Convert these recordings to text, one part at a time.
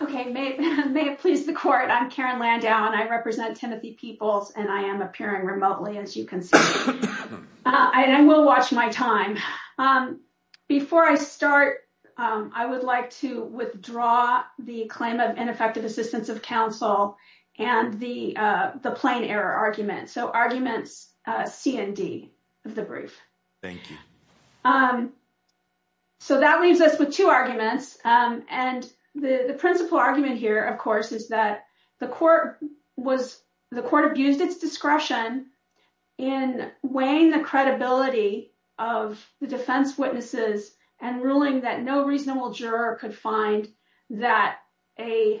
Okay, may it please the court. I'm Karen Landau and I represent Timothy Peoples, and I am appearing remotely as you can see. I will watch my time. Before I start, I would like to withdraw the claim of ineffective assistance of counsel and the plain error argument. So arguments C and D of the brief. Thank you. Um, so that leaves us with two arguments. And the principal argument here, of course, is that the court was the court abused its discretion in weighing the credibility of the defense witnesses and ruling that no reasonable juror could find that a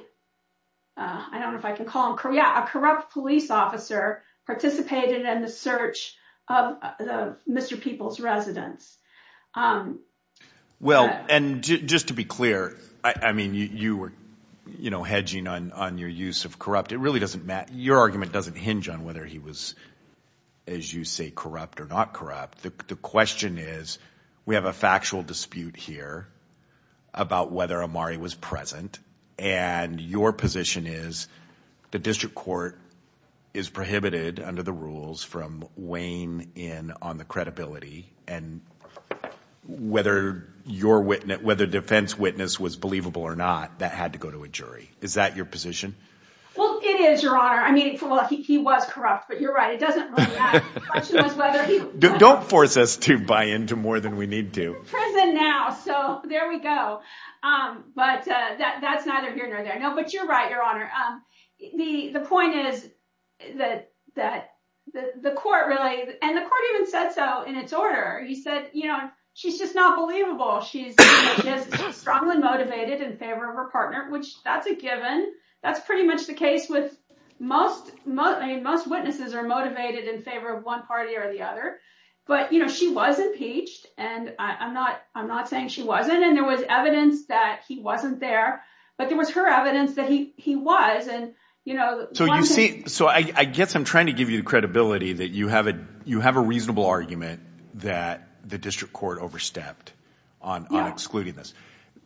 I don't know if I can call him Korea, a corrupt police officer participated in the search of the Mr. Peoples residence. Um, well, and just to be clear, I mean, you were, you know, hedging on your use of corrupt. It really doesn't matter. Your argument doesn't hinge on whether he was, as you say, corrupt or not corrupt. The question is, we have a factual dispute here about whether Amari was present. And your position is the district court is prohibited under the rules from weighing in on the credibility and whether your witness, whether defense witness was believable or not, that had to go to a jury. Is that your position? Well, it is your honor. I mean, he was corrupt, but you're right. It doesn't don't force us to buy into more than we need to prison now. So there we go. Um, but that's either here or there. No, but you're right, your honor. The point is that that the court really, and the court even said so in its order, he said, you know, she's just not believable. She's strongly motivated in favor of her partner, which that's a given. That's pretty much the case with most most most witnesses are motivated in favor of one party or the other. But, you know, she was impeached. And I'm not I'm not saying she wasn't. And there was evidence that he wasn't there. But there was her evidence that he he was. And, you know, so you see, so I guess I'm trying to give you the credibility that you have it. You have a reasonable argument that the district court overstepped on excluding this.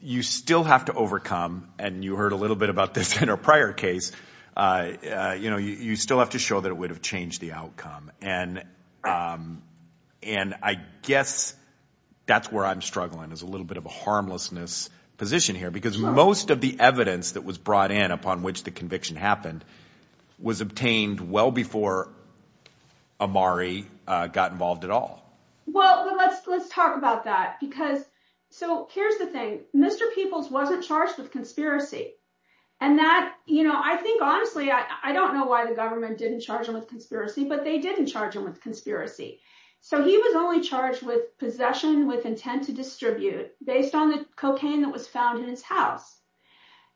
You still have to overcome. And you heard a little bit about this in our prior case. You know, you still have to show that it would have changed the outcome. And and I guess that's where I'm struggling is a little bit of a evidence that was brought in upon which the conviction happened was obtained well before Amari got involved at all. Well, let's let's talk about that, because so here's the thing. Mr. Peoples wasn't charged with conspiracy. And that, you know, I think, honestly, I don't know why the government didn't charge him with conspiracy, but they didn't charge him with conspiracy. So he was only charged with possession with intent to distribute based on the cocaine that was found in his house.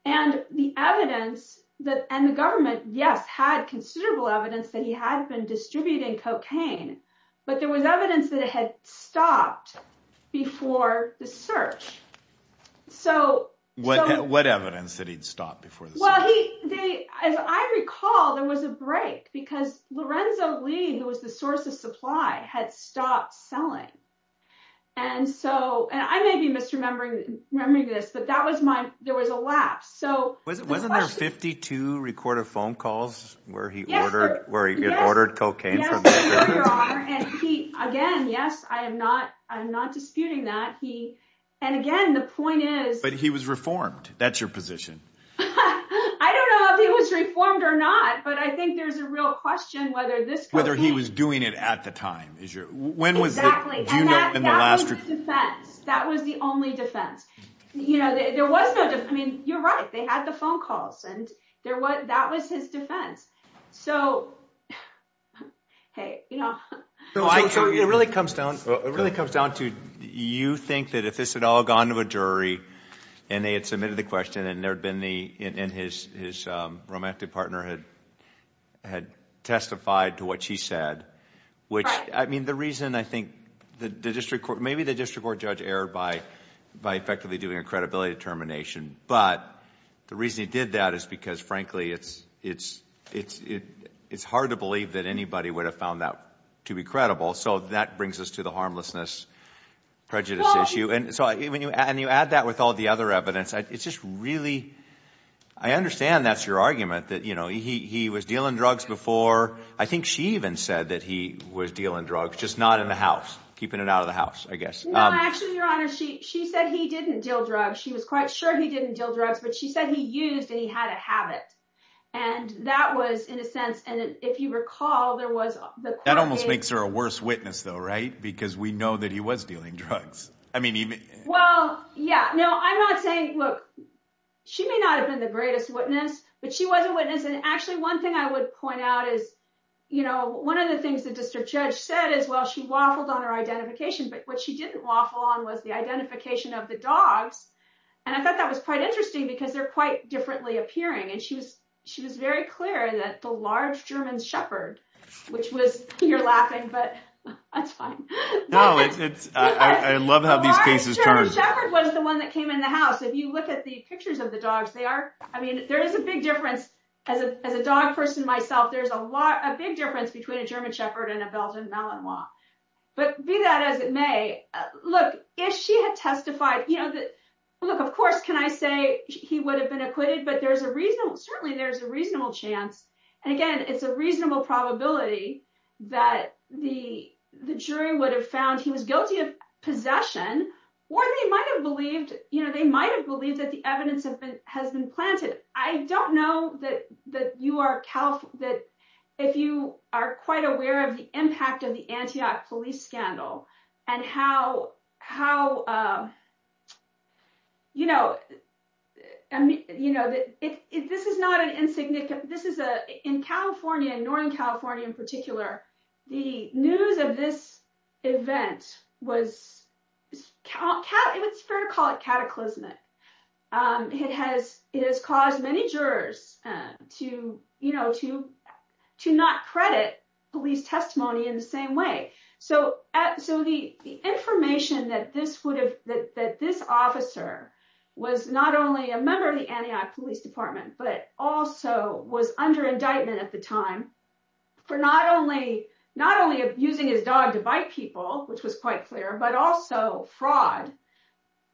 And the evidence that and the government, yes, had considerable evidence that he had been distributing cocaine. But there was evidence that it had stopped before the search. So what what evidence that he'd stopped before? Well, he did. As I recall, there was a break because Lorenzo Lee, who was the source of supply, had stopped selling. And so and I may be misremembering this, but that was my there was a lapse. So wasn't there 52 recorded phone calls where he ordered where he ordered cocaine? Again, yes, I am not I'm not disputing that he and again, the point is, but he was reformed. That's your position. I don't know if he was reformed or not. But I think there's a real question whether this whether he was doing it at the time is when was exactly in the last defense. That was the only defense. You know, there was no. I mean, you're right. They had the phone calls and there was that was his defense. So, hey, you know, it really comes down. It really comes down to you think that if this had all gone to a jury and they had submitted the question and there'd been the and his his romantic partner had had testified to what she said, which I mean, the reason I think the district court maybe the district court judge erred by by effectively doing a credibility determination. But the reason he did that is because, frankly, it's it's it's it's hard to believe that anybody would have found that to be credible. So that brings us to the I understand that's your argument that, you know, he was dealing drugs before. I think she even said that he was dealing drugs, just not in the house, keeping it out of the house, I guess. Actually, your honor, she she said he didn't deal drugs. She was quite sure he didn't do drugs, but she said he used and he had a habit. And that was in a sense. And if you recall, there was that almost makes her a worse witness, though, right? Because we know that he was dealing drugs. I mean, well, yeah, no, I'm not saying she may not have been the greatest witness, but she was a witness. And actually, one thing I would point out is, you know, one of the things the district judge said is, well, she waffled on her identification. But what she didn't waffle on was the identification of the dogs. And I thought that was quite interesting because they're quite differently appearing. And she was she was very clear that the large German shepherd, which was you're laughing, but that's fine. No, it's I love how these cases was the one that came in the house. If you look at the pictures of the dogs, they are. I mean, there is a big difference as a as a dog person myself. There's a lot a big difference between a German shepherd and a Belgian Malinois. But be that as it may look, if she had testified, you know, look, of course, can I say he would have been acquitted? But there's a reason. Certainly there's a reasonable chance. And again, it's a reasonable probability that the the jury would have found he was guilty of possession or they might have believed, you know, they might have believed that the evidence has been planted. I don't know that that you are that if you are quite aware of the impact of the Antioch police scandal and how how you know, I mean, you know, that if this is not an insignificant, this is a in California, Northern California in particular, the news of this event was it's fair to call it cataclysmic. It has it has caused many jurors to, you know, to to not credit police testimony in the same way. So so the information that this would have that this officer was not only a member of the Antioch police department, but also was under indictment at the time for not only not only abusing his dog to bite people, which was quite clear, but also fraud,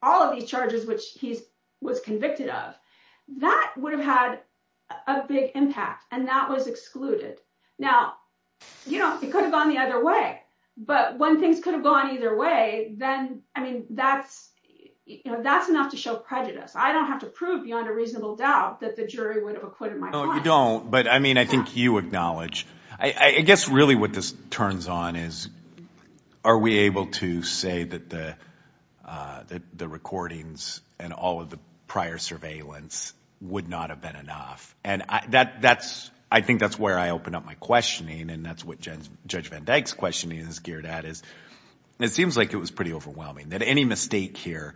all of these charges, which he's was convicted of, that would have had a big impact. And that was excluded. Now, you know, it could have gone the other way. But when things could have gone either way, then I mean, that's, you know, I don't have to prove beyond a reasonable doubt that the jury would have acquitted my client. No, you don't. But I mean, I think you acknowledge, I guess really what this turns on is, are we able to say that the that the recordings and all of the prior surveillance would not have been enough? And that that's, I think that's where I open up my questioning. And that's what Judge Van Dyke's questioning is geared at is, it seems like it was pretty overwhelming that any mistake here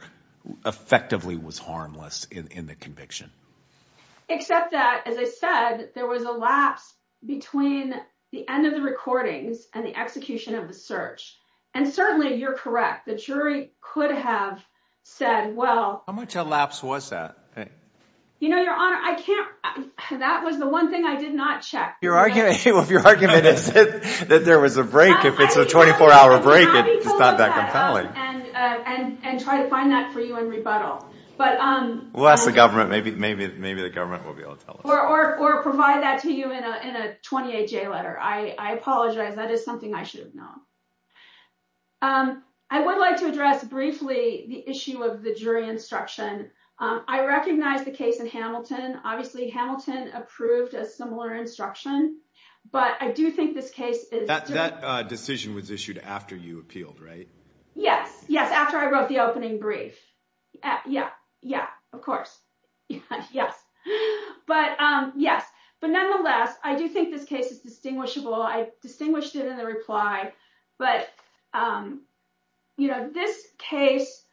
effectively was harmless in the conviction, except that, as I said, there was a lapse between the end of the recordings and the execution of the search. And certainly you're correct. The jury could have said, well, how much a lapse was that? You know, Your Honor, I can't. That was the one thing I did not check. Your argument of your argument is that there was a 24 hour break. It's not that compelling. And try to find that for you in rebuttal. But unless the government, maybe the government will be able to tell us. Or provide that to you in a 28-J letter. I apologize. That is something I should have known. I would like to address briefly the issue of the jury instruction. I recognize the case in Hamilton. Obviously, Hamilton approved a similar instruction. But I do think this case is- That decision was issued after you appealed, right? Yes. Yes. After I wrote the opening brief. Yeah. Yeah. Of course. Yes. But yes. But nonetheless, I do think this case is distinguishable. I distinguished it in the reply. But you know, this case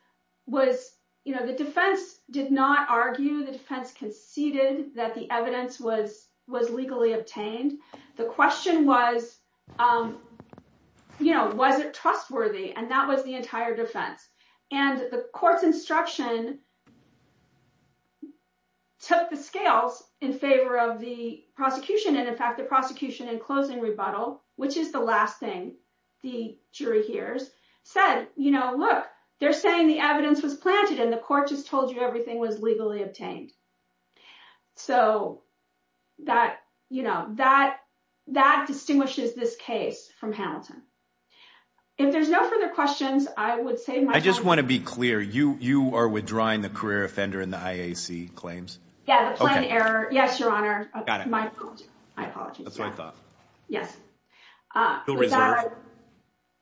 was, you know, the defense did not argue. The defense conceded that the evidence was was legally obtained. The question was, you know, was it trustworthy? And that was the entire defense. And the court's instruction took the scales in favor of the prosecution. And in fact, the prosecution in closing rebuttal, which is the last thing the jury hears, said, you know, look, they're saying the evidence was planted. And the court just told you everything was legally obtained. So that, you know, that distinguishes this case from Hamilton. If there's no further questions, I would say- I just want to be clear. You are withdrawing the career offender in the IAC claims? Yeah. The plain error. Yes, Your Honor. Got it. My apologies. My apologies. That's what I thought. Yes.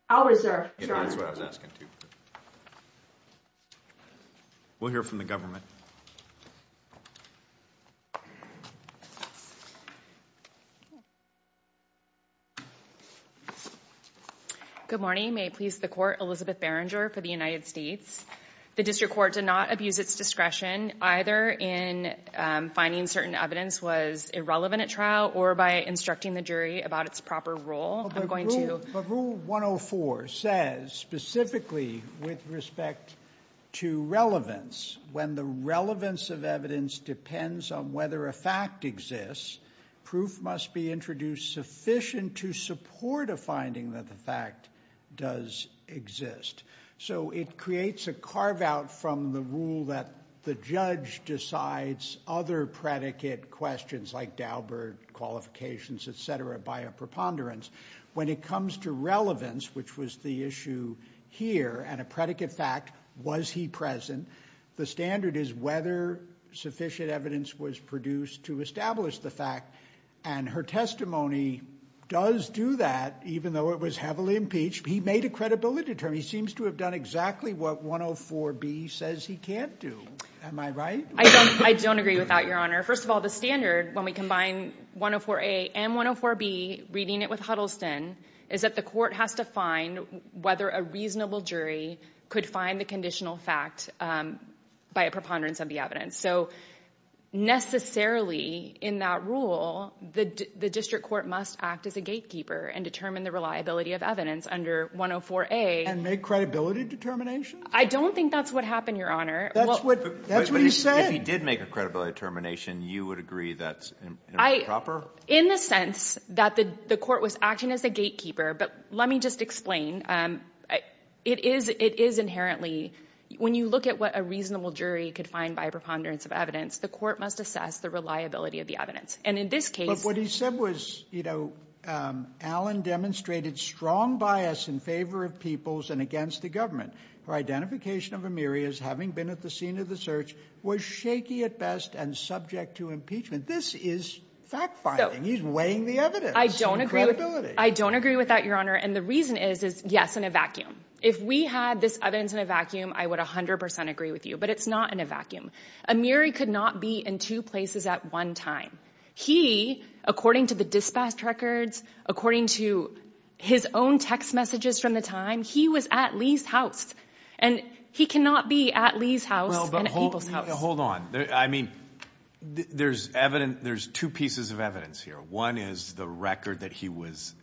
I'll reserve. We'll hear from the government. Good morning. May it please the court, Elizabeth Berenger for the United States. The district court did not abuse its discretion either in finding certain evidence was irrelevant or by instructing the jury about its proper role. But rule 104 says specifically with respect to relevance, when the relevance of evidence depends on whether a fact exists, proof must be introduced sufficient to support a finding that the fact does exist. So it creates a carve out from the rule that the judge decides other predicate questions like Daubert qualifications, et cetera, by a preponderance. When it comes to relevance, which was the issue here and a predicate fact, was he present? The standard is whether sufficient evidence was produced to establish the fact. And her testimony does do that, even though it was heavily impeached. He made a credibility term. He seems to have done exactly what 104B says he can't do. Am I right? I don't agree with that, Your Honor. First of all, when we combine 104A and 104B, reading it with Huddleston, the court has to find whether a reasonable jury could find the conditional fact by a preponderance of the evidence. So necessarily in that rule, the district court must act as a gatekeeper and determine the reliability of evidence under 104A. And make credibility determinations? I don't think that's what happened, Your Honor. That's what he said. If he did make a credibility determination, you would agree that's improper? In the sense that the court was acting as a gatekeeper, but let me just explain. It is inherently, when you look at what a reasonable jury could find by preponderance of evidence, the court must assess the reliability of the evidence. And in this case... But what he said was, you know, Alan demonstrated strong bias in favor of peoples and against the government. Her identification of Amiri as having been at the scene of the search was shaky at best and subject to impeachment. This is fact-finding. He's weighing the evidence and credibility. I don't agree with that, Your Honor. And the reason is, yes, in a vacuum. If we had this evidence in a vacuum, I would 100% agree with you, but it's not in a vacuum. Amiri could not be in two places at one time. He, according to the dispatch records, according to his own text messages from the time, he was at Lee's house. And he cannot be at Lee's house and at people's house. Hold on. I mean, there's two pieces of evidence here. One is the record that he was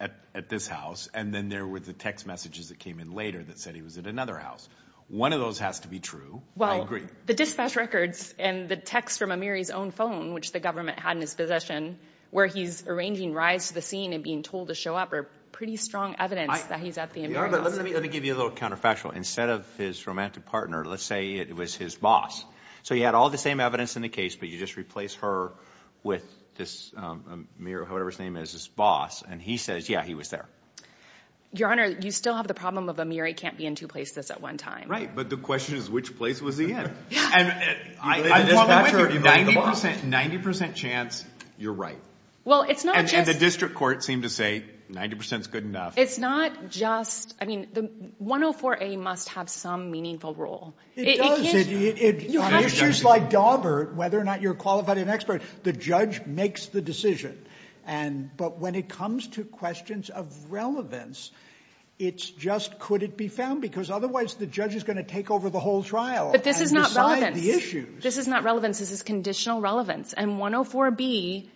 at this house, and then there were the text messages that came in later that said he was at another house. One of those has to be true. I agree. Well, the dispatch records and the text from Amiri's own phone, which the government had in his possession, where he's arranging rides to the scene and being told to show up are pretty strong evidence that he's at the Amiri's house. Let me give you a little counterfactual. Instead of his romantic partner, let's say it was his boss. So you had all the same evidence in the case, but you just replace her with this Amiri, whatever his name is, his boss. And he says, yeah, he was there. Your Honor, you still have the problem of Amiri can't be in two places at one time. Right. But the question is, which place was he in? 90% chance you're right. And the district court seemed to say 90% is good enough. It's not just, I mean, the 104A must have some meaningful role. It does. On issues like Daubert, whether or not you're qualified and expert, the judge makes the decision. But when it comes to questions of relevance, it's just, could it be found? Because otherwise, the judge is going to take over the whole trial and decide the issues. But this is not relevance. This is conditional relevance. And 104B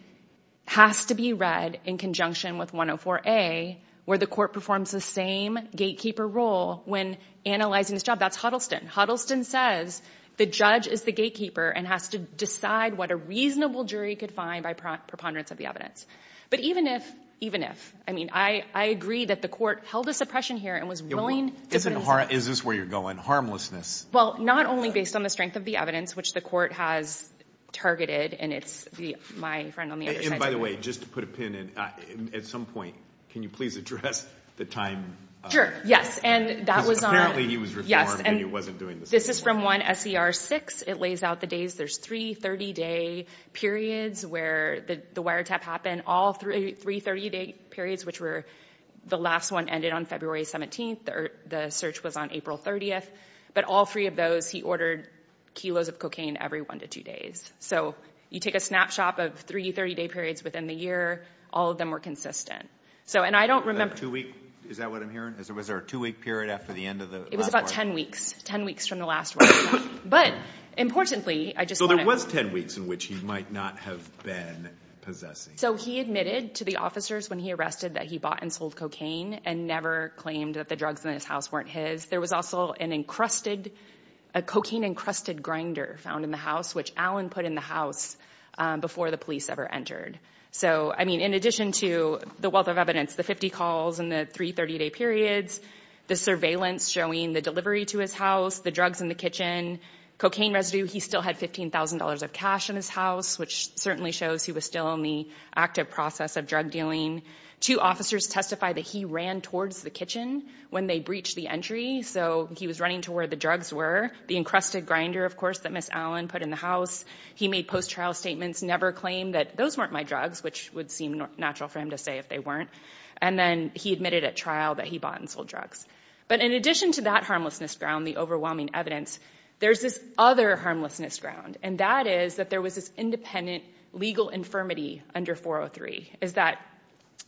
has to be read in conjunction with 104A, where the court performs the same gatekeeper role when analyzing this job. That's Huddleston. Huddleston says the judge is the gatekeeper and has to decide what a reasonable jury could find by preponderance of the evidence. But even if, even if, I mean, I agree that the court held a suppression here and was willing to- Is this where you're going? Harmlessness? Well, not only based on the strength of the evidence, which the court has targeted, and it's my friend on the other side- And by the way, just to put a pin in, at some point, can you please address the time? Sure. Yes. And that was on- Because apparently he was reformed and he wasn't doing the same thing. This is from 1SER6. It lays out the days. There's three 30-day periods where the wiretap happened. All three 30-day periods, which were, the last one ended on February 17th. The search was on April 30th. But all three of those, he ordered kilos of cocaine every one to two days. So you a snapshot of three 30-day periods within the year, all of them were consistent. So, and I don't remember- Is that two week? Is that what I'm hearing? Was there a two week period after the end of the last wiretap? It was about 10 weeks, 10 weeks from the last wiretap. But importantly, I just want to- So there was 10 weeks in which he might not have been possessing. So he admitted to the officers when he arrested that he bought and sold cocaine and never claimed that the drugs in his house weren't his. There was also an encrusted, a cocaine encrusted grinder found in the house, which Alan put in the house before the police ever entered. So I mean, in addition to the wealth of evidence, the 50 calls and the three 30-day periods, the surveillance showing the delivery to his house, the drugs in the kitchen, cocaine residue, he still had $15,000 of cash in his house, which certainly shows he was still in the active process of drug dealing. Two officers testified that he ran towards the kitchen when they breached the entry. So he was running to where the drugs were, the encrusted grinder, of course, that Miss Allen put in the house. He made post-trial statements, never claimed that those weren't my drugs, which would seem natural for him to say if they weren't. And then he admitted at trial that he bought and sold drugs. But in addition to that harmlessness ground, the overwhelming evidence, there's this other harmlessness ground, and that is that there was this independent legal infirmity under 403, is that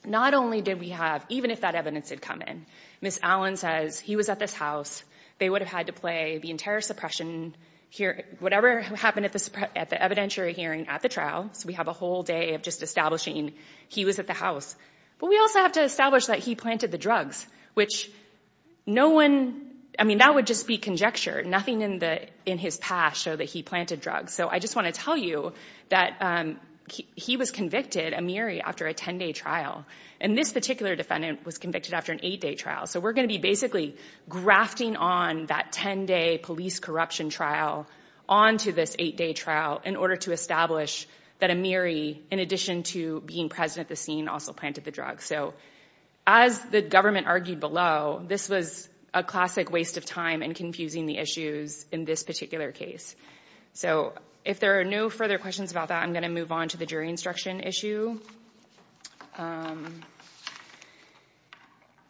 not only did we have, even if that evidence had come in, Miss Allen says he was at this house, they would have had to play the entire suppression hearing, whatever happened at the evidentiary hearing at the trial. So we have a whole day of just establishing he was at the house. But we also have to establish that he planted the drugs, which no one, I mean, that would just be conjecture. Nothing in his past showed that he planted drugs. So I just want to tell you that he was convicted, Amiri, after a 10-day trial. And this particular defendant was convicted after an eight-day trial. So we're going to be basically grafting on that 10-day police corruption trial onto this eight-day trial in order to establish that Amiri, in addition to being present at the scene, also planted the drugs. So as the government argued below, this was a classic waste of time in confusing the issues in this particular case. So if there are no further questions about that, I'm going to move on to the jury instruction issue.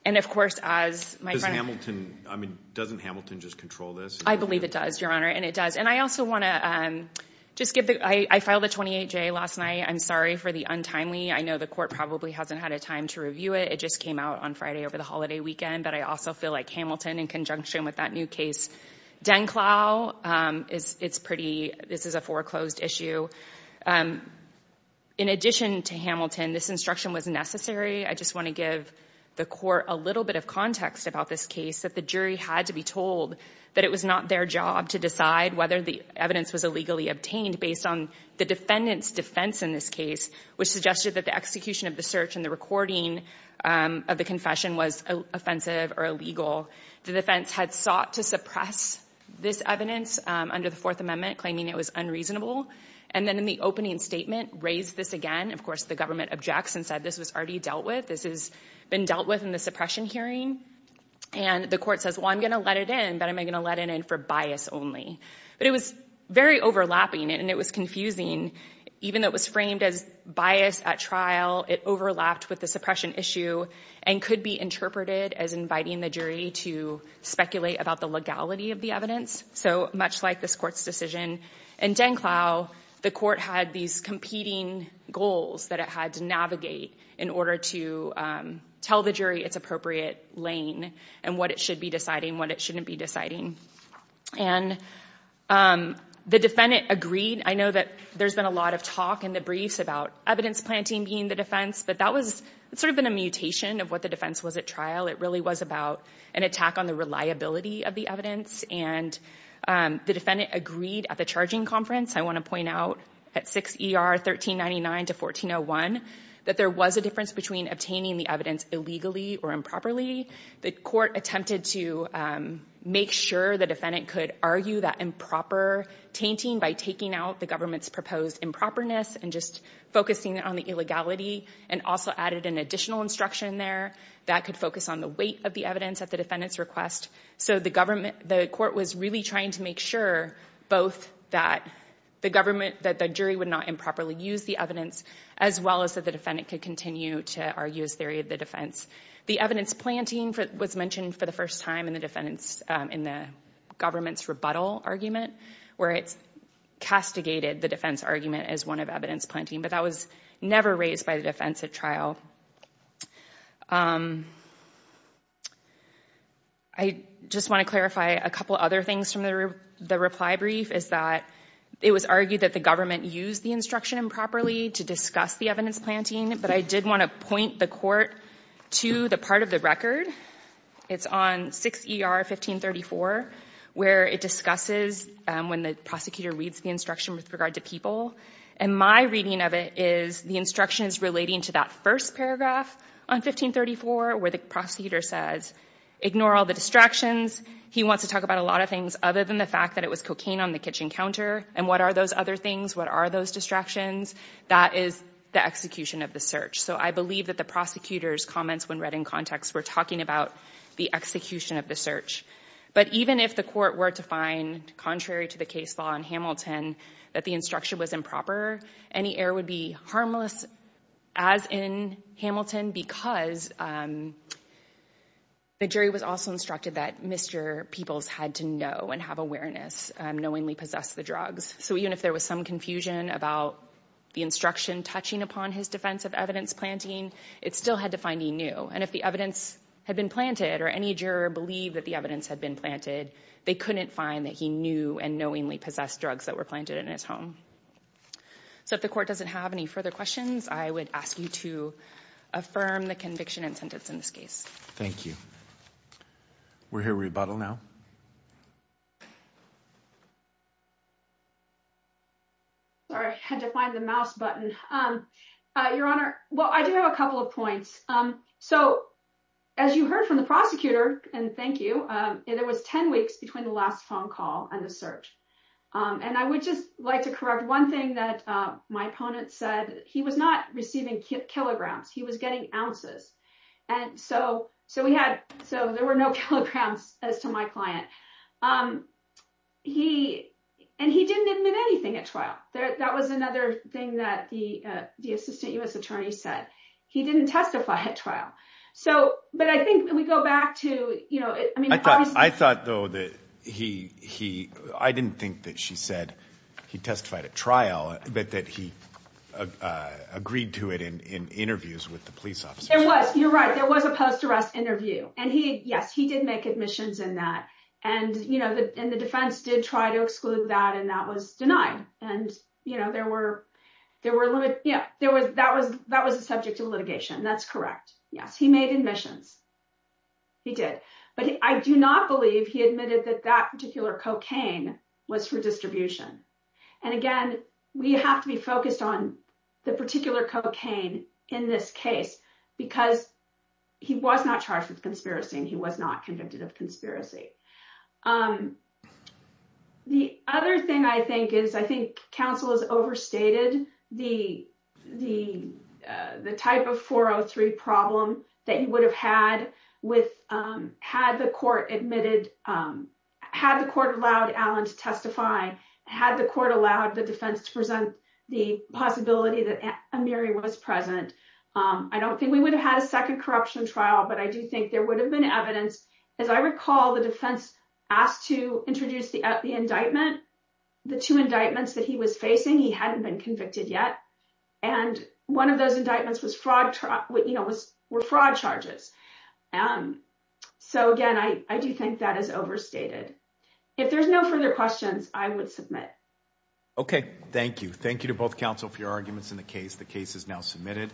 And of course, as my friend... Does Hamilton, I mean, doesn't Hamilton just control this? I believe it does, Your Honor, and it does. And I also want to just give the, I filed a 28-J last night. I'm sorry for the untimely. I know the court probably hasn't had a time to review it. It just came out on Friday over the holiday weekend. But I also feel like Hamilton, in conjunction with that new case, Denklau, it's pretty, this is a foreclosed issue. And in addition to Hamilton, this instruction was necessary. I just want to give the court a little bit of context about this case, that the jury had to be told that it was not their job to decide whether the evidence was illegally obtained based on the defendant's defense in this case, which suggested that the execution of the search and the recording of the confession was offensive or illegal. The defense had sought to suppress this evidence under the Fourth Amendment, claiming it was unreasonable. And then in the opening statement, raised this again, of course, the government objects and said, this was already dealt with. This has been dealt with in the suppression hearing. And the court says, well, I'm going to let it in, but am I going to let it in for bias only? But it was very overlapping and it was confusing. Even though it was framed as bias at trial, it overlapped with the suppression issue and could be interpreted as inviting the jury to speculate about the legality of the evidence. So much like this court's decision in DenClau, the court had these competing goals that it had to navigate in order to tell the jury its appropriate lane and what it should be deciding, what it shouldn't be deciding. And the defendant agreed. I know that there's been a lot of talk in the briefs about evidence planting being the defense, but that was sort of been a mutation of what the defense was at trial. It really was about an attack on the reliability of the evidence and the defendant agreed at the charging conference. I want to point out at 6 ER 1399 to 1401 that there was a difference between obtaining the evidence illegally or improperly. The court attempted to make sure the defendant could argue that improper tainting by taking out the government's proposed improperness and just focusing on the illegality and also added an additional instruction there that could focus on the weight of the evidence at the defendant's request. So the court was really trying to make sure both that the jury would not improperly use the evidence as well as that the defendant could continue to argue his theory of the defense. The evidence planting was mentioned for the first time in the government's rebuttal argument where it's castigated the defense argument as one of evidence planting, but that was never raised by the defense at trial. I just want to clarify a couple other things from the reply brief is that it was argued that the government used the instruction improperly to discuss the evidence planting, but I did want to point the court to the part of the record. It's on 6 ER 1534 where it discusses when the prosecutor reads the instruction with regard to people and my reading of it is the instructions relating to that first paragraph on 1534 where the prosecutor says ignore all the distractions. He wants to talk about a lot of things other than the fact that it was cocaine on the kitchen counter and what are those other things what are those distractions that is the execution of the search. So I believe that the prosecutor's comments when read in context were talking about the execution of the search, but even if the court were to find contrary to case law in Hamilton that the instruction was improper, any error would be harmless as in Hamilton because the jury was also instructed that misdrear peoples had to know and have awareness knowingly possess the drugs. So even if there was some confusion about the instruction touching upon his defense of evidence planting, it still had to find he knew and if the evidence had been planted or any juror believed that the evidence had been planted, they couldn't find that he knew and possessed drugs that were planted in his home. So if the court doesn't have any further questions, I would ask you to affirm the conviction and sentence in this case. Thank you. We're here rebuttal now. Sorry, I had to find the mouse button. Your honor. Well, I do have a couple of points. So as you heard from the prosecutor, and thank you, there was 10 weeks between the phone call and the search. And I would just like to correct one thing that my opponent said he was not receiving kilograms, he was getting ounces. And so there were no kilograms as to my client. And he didn't admit anything at trial. That was another thing that the assistant U.S. attorney said. He didn't testify at trial. But I think we go back to- I thought though that he... I didn't think that she said he testified at trial, but that he agreed to it in interviews with the police officer. There was. You're right. There was a post arrest interview. And yes, he did make admissions in that. And the defense did try to exclude that, and that was denied. And that was the subject of litigation. That's correct. Yes, he made admissions. He did. But I do not believe he admitted that that particular cocaine was for distribution. And again, we have to be focused on the particular cocaine in this case, because he was not charged with conspiracy and he was not convicted of conspiracy. The other thing I think is I think counsel has overstated the type of 403 problem that you would have had had the court admitted, had the court allowed Allen to testify, had the court allowed the defense to present the possibility that Amiri was present. I don't think we would have had a second corruption trial, but I do think there would have been evidence I recall the defense asked to introduce the indictment, the two indictments that he was facing. He hadn't been convicted yet. And one of those indictments was fraud charges. So, again, I do think that is overstated. If there's no further questions, I would submit. OK, thank you. Thank you to both counsel for your arguments in the case. The case is now submitted.